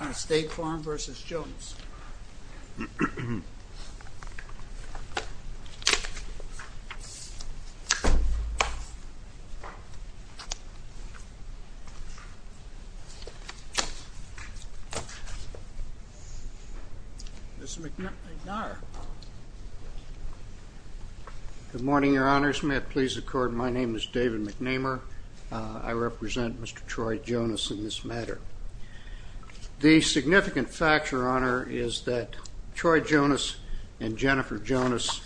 On a State Farm v. Jonas Good morning, Your Honors. May it please the Court, my name is David McNamer. I represent Mr. Troy Jonas in this matter. The significant fact, Your Honor, is that Troy Jonas and Jennifer Jonas,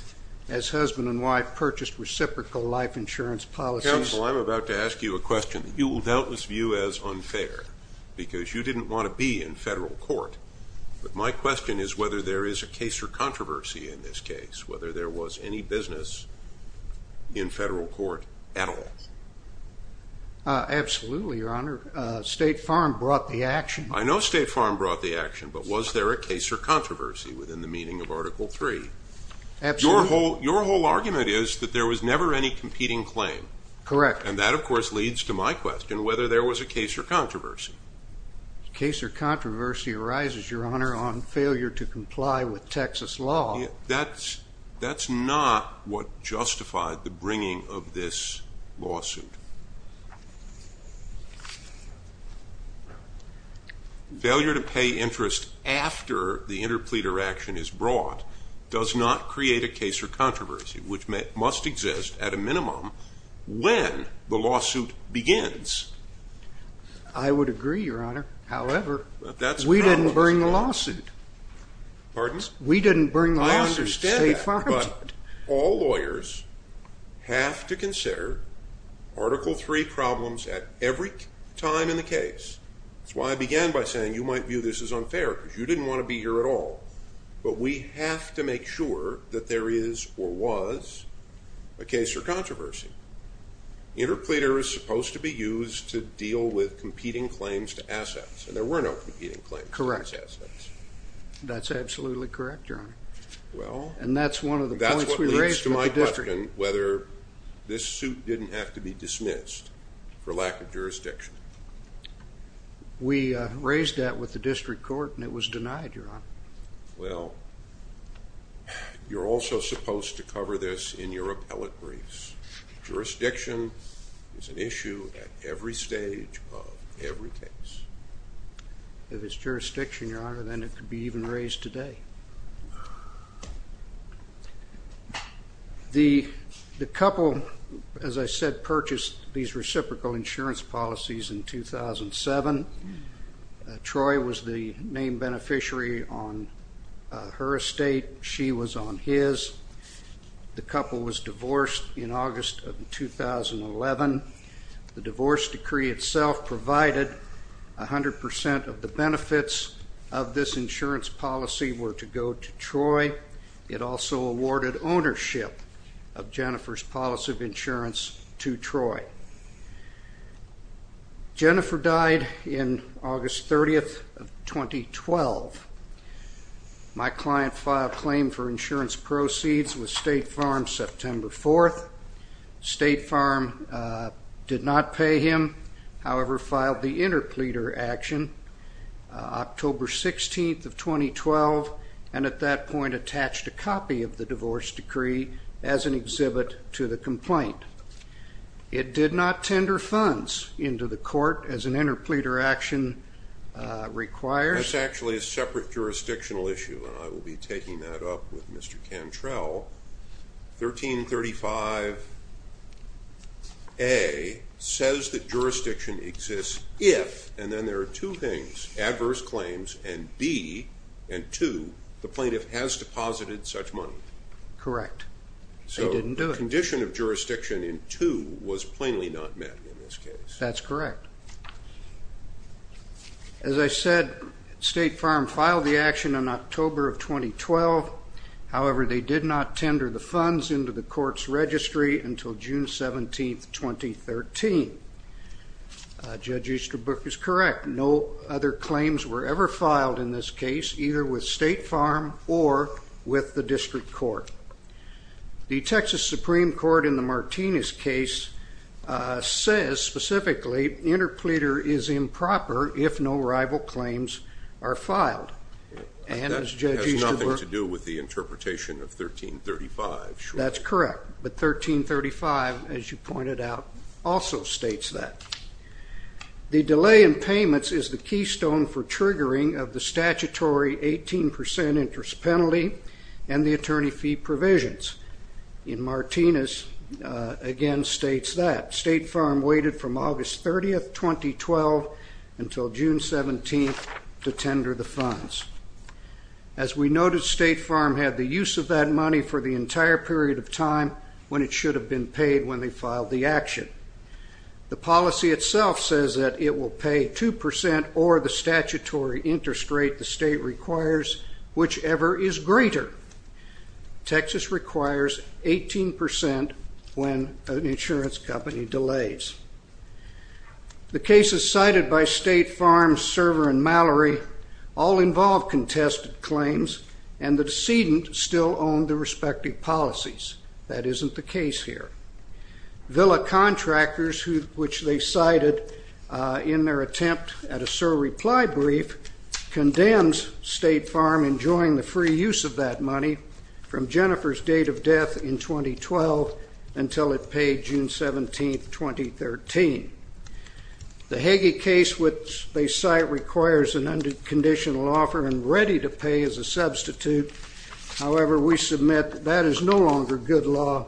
as husband and wife, purchased reciprocal life insurance policies. Counsel, I'm about to ask you a question that you will doubtless view as unfair, because you didn't want to be in federal court. But my question is whether there is a case or controversy in this case, whether there was any business in federal court at all. Absolutely, Your Honor. State Farm brought the action. I know State Farm brought the action, but was there a case or controversy within the meaning of Article 3? Absolutely. Your whole argument is that there was never any competing claim. Correct. And that, of course, leads to my question, whether there was a case or controversy. A case or controversy arises, Your Honor, on failure to comply with Texas law. That's not what justified the bringing of this lawsuit. Failure to pay interest after the interpleader action is brought does not create a case or controversy, which must exist at a minimum when the lawsuit begins. I would agree, Your Honor. However, we didn't bring the lawsuit. Pardon? We didn't bring the lawsuit. State Farm did. I understand that, but all lawyers have to consider Article 3 problems at every time in the case. That's why I began by saying you might view this as unfair, because you didn't want to be here at all. But we have to make sure that there is or was a case or controversy. Interpleader is supposed to be used to deal with competing claims to assets, and there were no competing claims to assets. Correct. That's absolutely correct, Your Honor. Well, that's what leads to my question, whether this suit didn't have to be dismissed for lack of jurisdiction. We raised that with the district court, and it was denied, Your Honor. Well, you're also supposed to cover this in your appellate briefs. Jurisdiction is an issue at every stage of every case. If it's jurisdiction, Your Honor, then it could be even raised today. The couple, as I said, purchased these reciprocal insurance policies in 2007. Troy was the main beneficiary on her estate. She was on his. The couple was divorced in August of 2011. The divorce decree itself provided 100% of the benefits of this insurance policy were to go to Troy. It also awarded ownership of Jennifer's policy of insurance to Troy. Jennifer died in August 30th of 2012. My client filed claim for insurance proceeds with State Farm September 4th. State Farm did not pay him, however, filed the interpleader action October 16th of 2012, and at that point attached a copy of the divorce decree as an exhibit to the complaint. It did not tender funds into the court as an interpleader action requires. That's actually a separate jurisdictional issue, and I will be taking that up with Mr. Cantrell. 1335A says that jurisdiction exists if, and then there are two things, adverse claims, and B, and 2, the plaintiff has deposited such money. Correct. They didn't do it. So the condition of jurisdiction in 2 was plainly not met in this case. That's correct. As I said, State Farm filed the action in October of 2012. However, they did not tender the funds into the court's registry until June 17th, 2013. Judge Easterbrook is correct. No other claims were ever filed in this case, either with State Farm or with the district court. The Texas Supreme Court in the Martinez case says specifically interpleader is improper if no rival claims are filed. That has nothing to do with the interpretation of 1335. That's correct, but 1335, as you pointed out, also states that. The delay in payments is the keystone for triggering of the statutory 18% interest penalty and the attorney fee provisions. In Martinez, again, states that. State Farm waited from August 30th, 2012 until June 17th to tender the funds. As we noted, State Farm had the use of that money for the entire period of time when it should have been paid when they filed the action. The policy itself says that it will pay 2% or the statutory interest rate the state requires, whichever is greater. Texas requires 18% when an insurance company delays. The cases cited by State Farm, Server, and Mallory all involve contested claims, and the decedent still owned the respective policies. That isn't the case here. Villa Contractors, which they cited in their attempt at a SOAR reply brief, condemns State Farm enjoying the free use of that money from Jennifer's date of death in 2012 until it paid June 17th, 2013. The Hagee case, which they cite, requires an unconditional offer and ready to pay as a substitute. However, we submit that that is no longer good law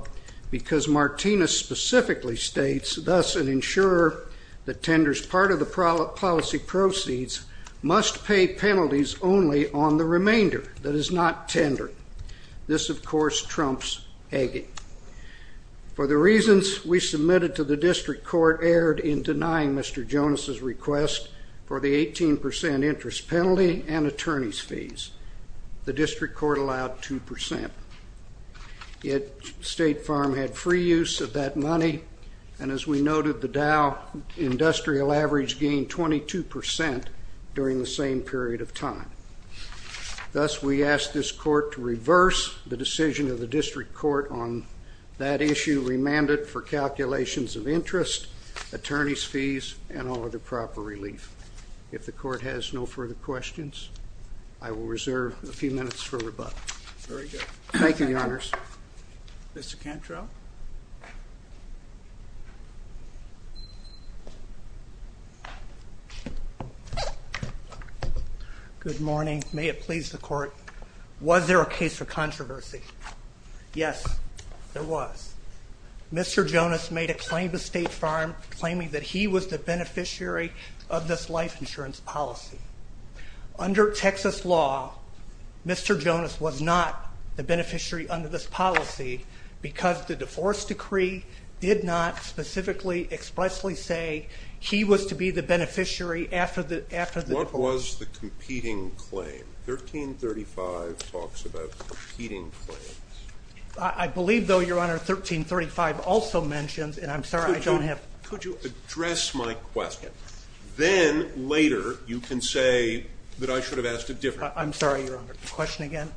because Martinez specifically states, thus an insurer that tenders part of the policy proceeds must pay penalties only on the remainder that is not tendered. This, of course, trumps Hagee. For the reasons we submitted to the district court erred in denying Mr. Jonas' request for the 18% interest penalty and attorney's fees. The district court allowed 2%. Yet State Farm had free use of that money, and as we noted, the Dow Industrial Average gained 22% during the same period of time. Thus, we ask this court to reverse the decision of the district court on that issue, remand it for calculations of interest, attorney's fees, and all other proper relief. If the court has no further questions, I will reserve a few minutes for rebuttal. Thank you, Your Honors. Mr. Cantrell? Good morning. May it please the court. Was there a case for controversy? Yes, there was. Mr. Jonas made a claim to State Farm claiming that he was the beneficiary of this life insurance policy. Under Texas law, Mr. Jonas was not the beneficiary under this policy because the divorce decree did not specifically expressly say he was to be the beneficiary after the divorce. What was the competing claim? 1335 talks about competing claims. I believe, though, Your Honor, 1335 also mentions, and I'm sorry I don't have Could you address my question? Then, later, you can say that I should have asked it differently. I'm sorry, Your Honor. Question again?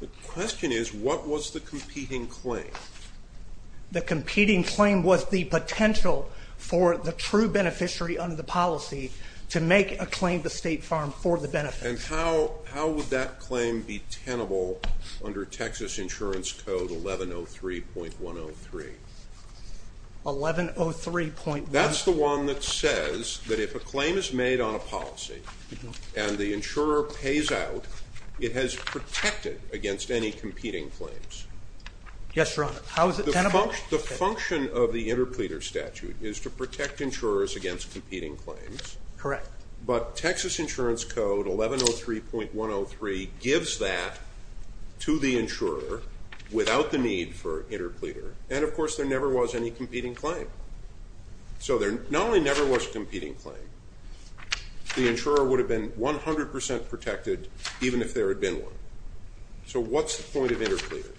The question is, what was the competing claim? The competing claim was the potential for the true beneficiary under the policy to make a claim to State Farm for the benefit. And how would that claim be tenable under Texas Insurance Code 1103.103? 1103.103? That's the one that says that if a claim is made on a policy and the insurer pays out, it has protected against any competing claims. Yes, Your Honor. How is it tenable? The function of the interpleader statute is to protect insurers against competing claims. Correct. But Texas Insurance Code 1103.103 gives that to the insurer without the need for interpleader. And, of course, there never was any competing claim. So there not only never was a competing claim, the insurer would have been 100% protected even if there had been one. So what's the point of interpleader?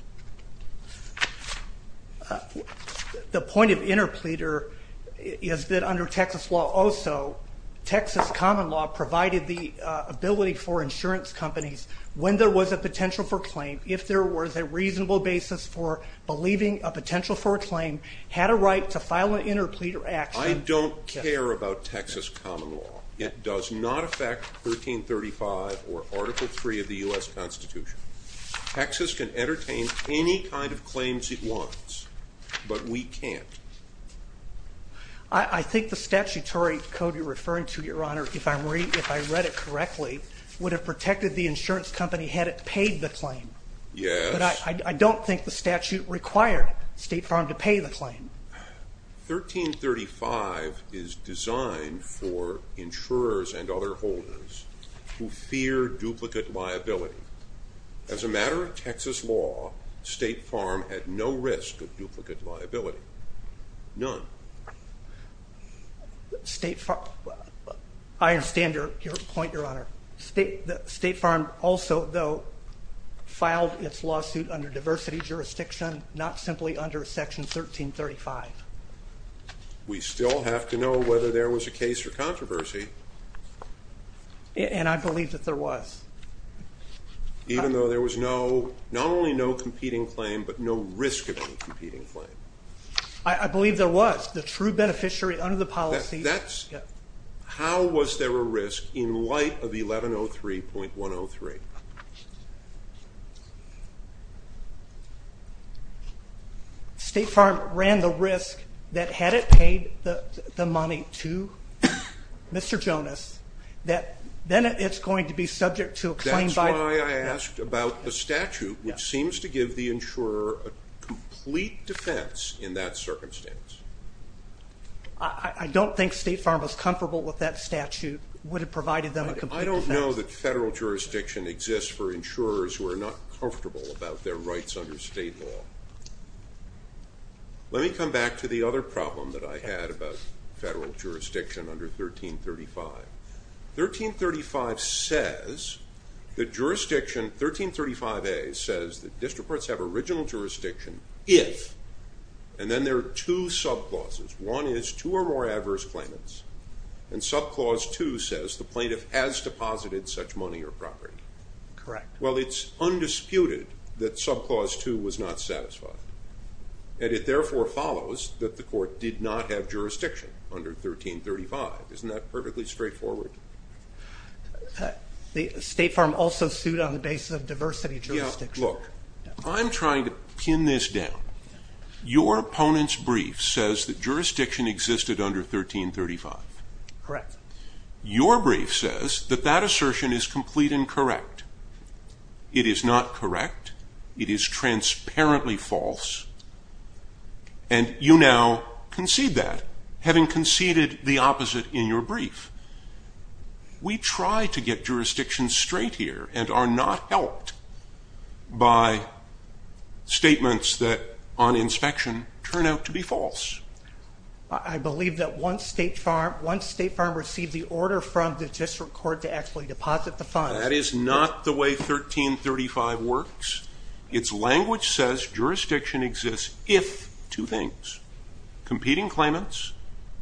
The point of interpleader is that under Texas law also, Texas common law provided the ability for insurance companies when there was a potential for claim, if there was a reasonable basis for believing a potential for a claim, had a right to file an interpleader action. I don't care about Texas common law. It does not affect 1335 or Article III of the U.S. Constitution. Texas can entertain any kind of claims it wants, but we can't. I think the statutory code you're referring to, Your Honor, if I read it correctly, would have protected the insurance company had it paid the claim. Yes. But I don't think the statute required State Farm to pay the claim. 1335 is designed for insurers and other holders who fear duplicate liability. As a matter of Texas law, State Farm had no risk of duplicate liability. None. I understand your point, Your Honor. State Farm also, though, filed its lawsuit under diversity jurisdiction, not simply under Section 1335. We still have to know whether there was a case for controversy. And I believe that there was. Even though there was no, not only no competing claim, but no risk of any competing claim. I believe there was. The true beneficiary under the policy. How was there a risk in light of 1103.103? State Farm ran the risk that had it paid the money to Mr. Jonas, that then it's going to be subject to a claim by. That's why I asked about the statute, which seems to give the insurer a complete defense in that circumstance. I don't think State Farm was comfortable with that statute. It would have provided them a complete defense. I don't know that federal jurisdiction exists for insurers who are not comfortable about their rights under state law. Let me come back to the other problem that I had about federal jurisdiction under 1335. 1335 says that jurisdiction, 1335A says that district courts have original jurisdiction if, and then there are two sub clauses. One is two or more adverse claimants. And sub clause two says the plaintiff has deposited such money or property. Correct. Well, it's undisputed that sub clause two was not satisfied. And it therefore follows that the court did not have jurisdiction under 1335. Isn't that perfectly straightforward? State Farm also sued on the basis of diversity jurisdiction. Look, I'm trying to pin this down. Your opponent's brief says that jurisdiction existed under 1335. Correct. Your brief says that that assertion is complete and correct. It is not correct. It is transparently false. And you now concede that, having conceded the opposite in your brief. We try to get jurisdiction straight here and are not helped. By statements that, on inspection, turn out to be false. I believe that once State Farm received the order from the district court to actually deposit the funds. That is not the way 1335 works. Its language says jurisdiction exists if two things, competing claimants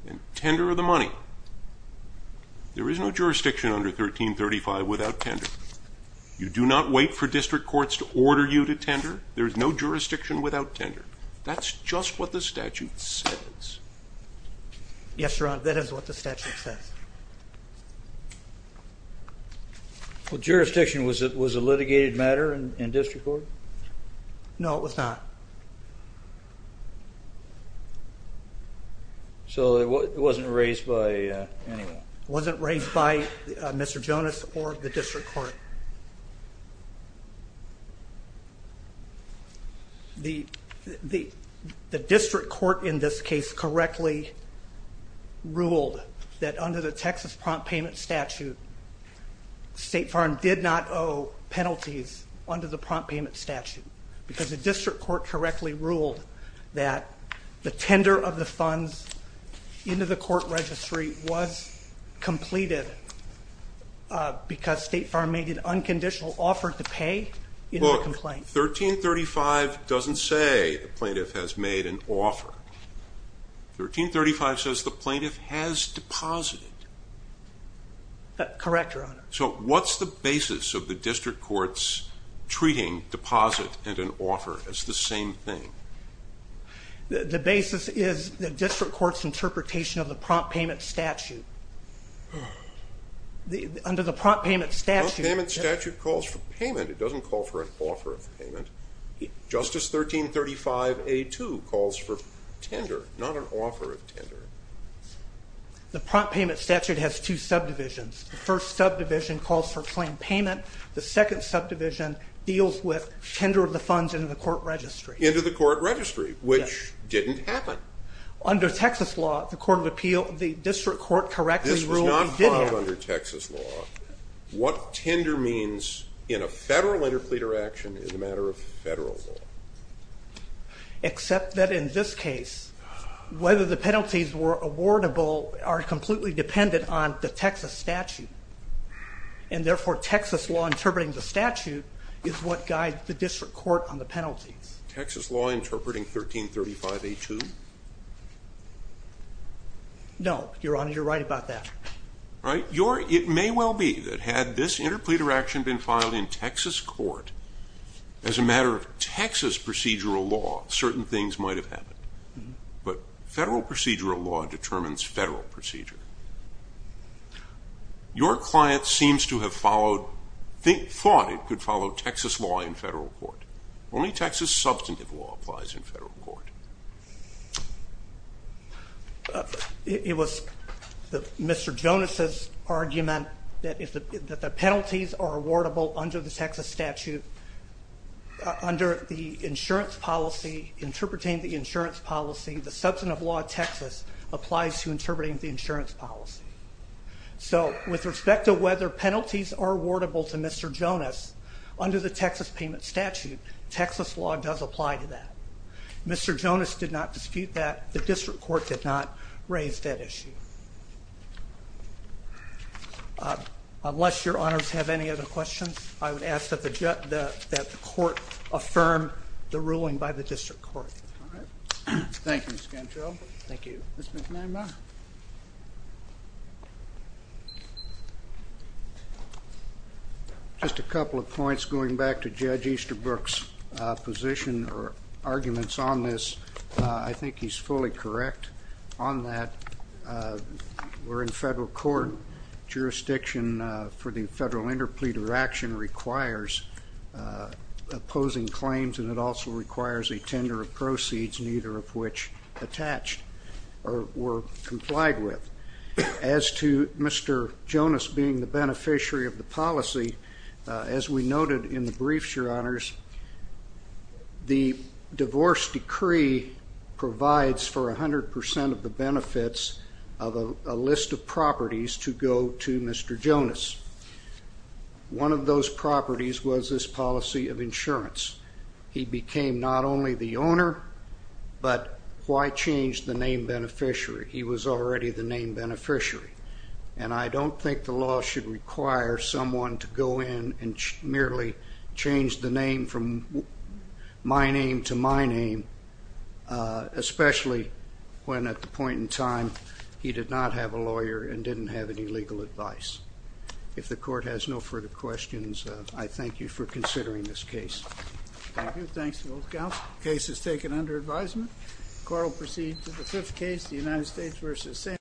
and tender of the money. There is no jurisdiction under 1335 without tender. You do not wait for district courts to order you to tender. There is no jurisdiction without tender. That's just what the statute says. Yes, Your Honor, that is what the statute says. Well, jurisdiction was a litigated matter in district court? No, it was not. So it wasn't raised by anyone? It wasn't raised by Mr. Jonas or the district court? The district court in this case correctly ruled that under the Texas prompt payment statute. State Farm did not owe penalties under the prompt payment statute. Because the district court correctly ruled that the tender of the funds into the court registry was completed. Because State Farm made an unconditional offer to pay in the complaint. Look, 1335 doesn't say the plaintiff has made an offer. 1335 says the plaintiff has deposited. Correct, Your Honor. So what's the basis of the district court's treating deposit and an offer as the same thing? The basis is the district court's interpretation of the prompt payment statute. Under the prompt payment statute. The prompt payment statute calls for payment. It doesn't call for an offer of payment. Justice 1335A2 calls for tender, not an offer of tender. The prompt payment statute has two subdivisions. The first subdivision calls for claim payment. The second subdivision deals with tender of the funds into the court registry. Into the court registry, which didn't happen. Under Texas law, the district court correctly ruled it did happen. This was not filed under Texas law. What tender means in a federal interpleader action is a matter of federal law. Except that in this case, whether the penalties were awardable are completely dependent on the Texas statute. And therefore, Texas law interpreting the statute is what guides the district court on the penalties. Texas law interpreting 1335A2? No, Your Honor. You're right about that. It may well be that had this interpleader action been filed in Texas court, as a matter of Texas procedural law, certain things might have happened. But federal procedural law determines federal procedure. Your client seems to have thought it could follow Texas law in federal court. Only Texas substantive law applies in federal court. It was Mr. Jonas's argument that the penalties are awardable under the Texas statute. Under the insurance policy, interpreting the insurance policy, the substantive law of Texas applies to interpreting the insurance policy. So, with respect to whether penalties are awardable to Mr. Jonas, under the Texas payment statute, Texas law does apply to that. Mr. Jonas did not dispute that. The district court did not raise that issue. Unless Your Honors have any other questions, I would ask that the court affirm the ruling by the district court. Thank you, Mr. Cantrell. Thank you. Mr. McNamara? Just a couple of points. Going back to Judge Easterbrook's position or arguments on this, I think he's fully correct on that. We're in federal court. Jurisdiction for the federal interpleader action requires opposing claims and it also requires a tender of proceeds, neither of which attached. Or were complied with. As to Mr. Jonas being the beneficiary of the policy, as we noted in the briefs, Your Honors, the divorce decree provides for 100% of the benefits of a list of properties to go to Mr. Jonas. One of those properties was his policy of insurance. He became not only the owner, but why change the name beneficiary? He was already the name beneficiary. And I don't think the law should require someone to go in and merely change the name from my name to my name, especially when at the point in time he did not have a lawyer and didn't have any legal advice. If the court has no further questions, I thank you for considering this case. Thank you. Thanks to both counsels. Case is taken under advisement. Court will proceed to the fifth case, the United States v. Sanford.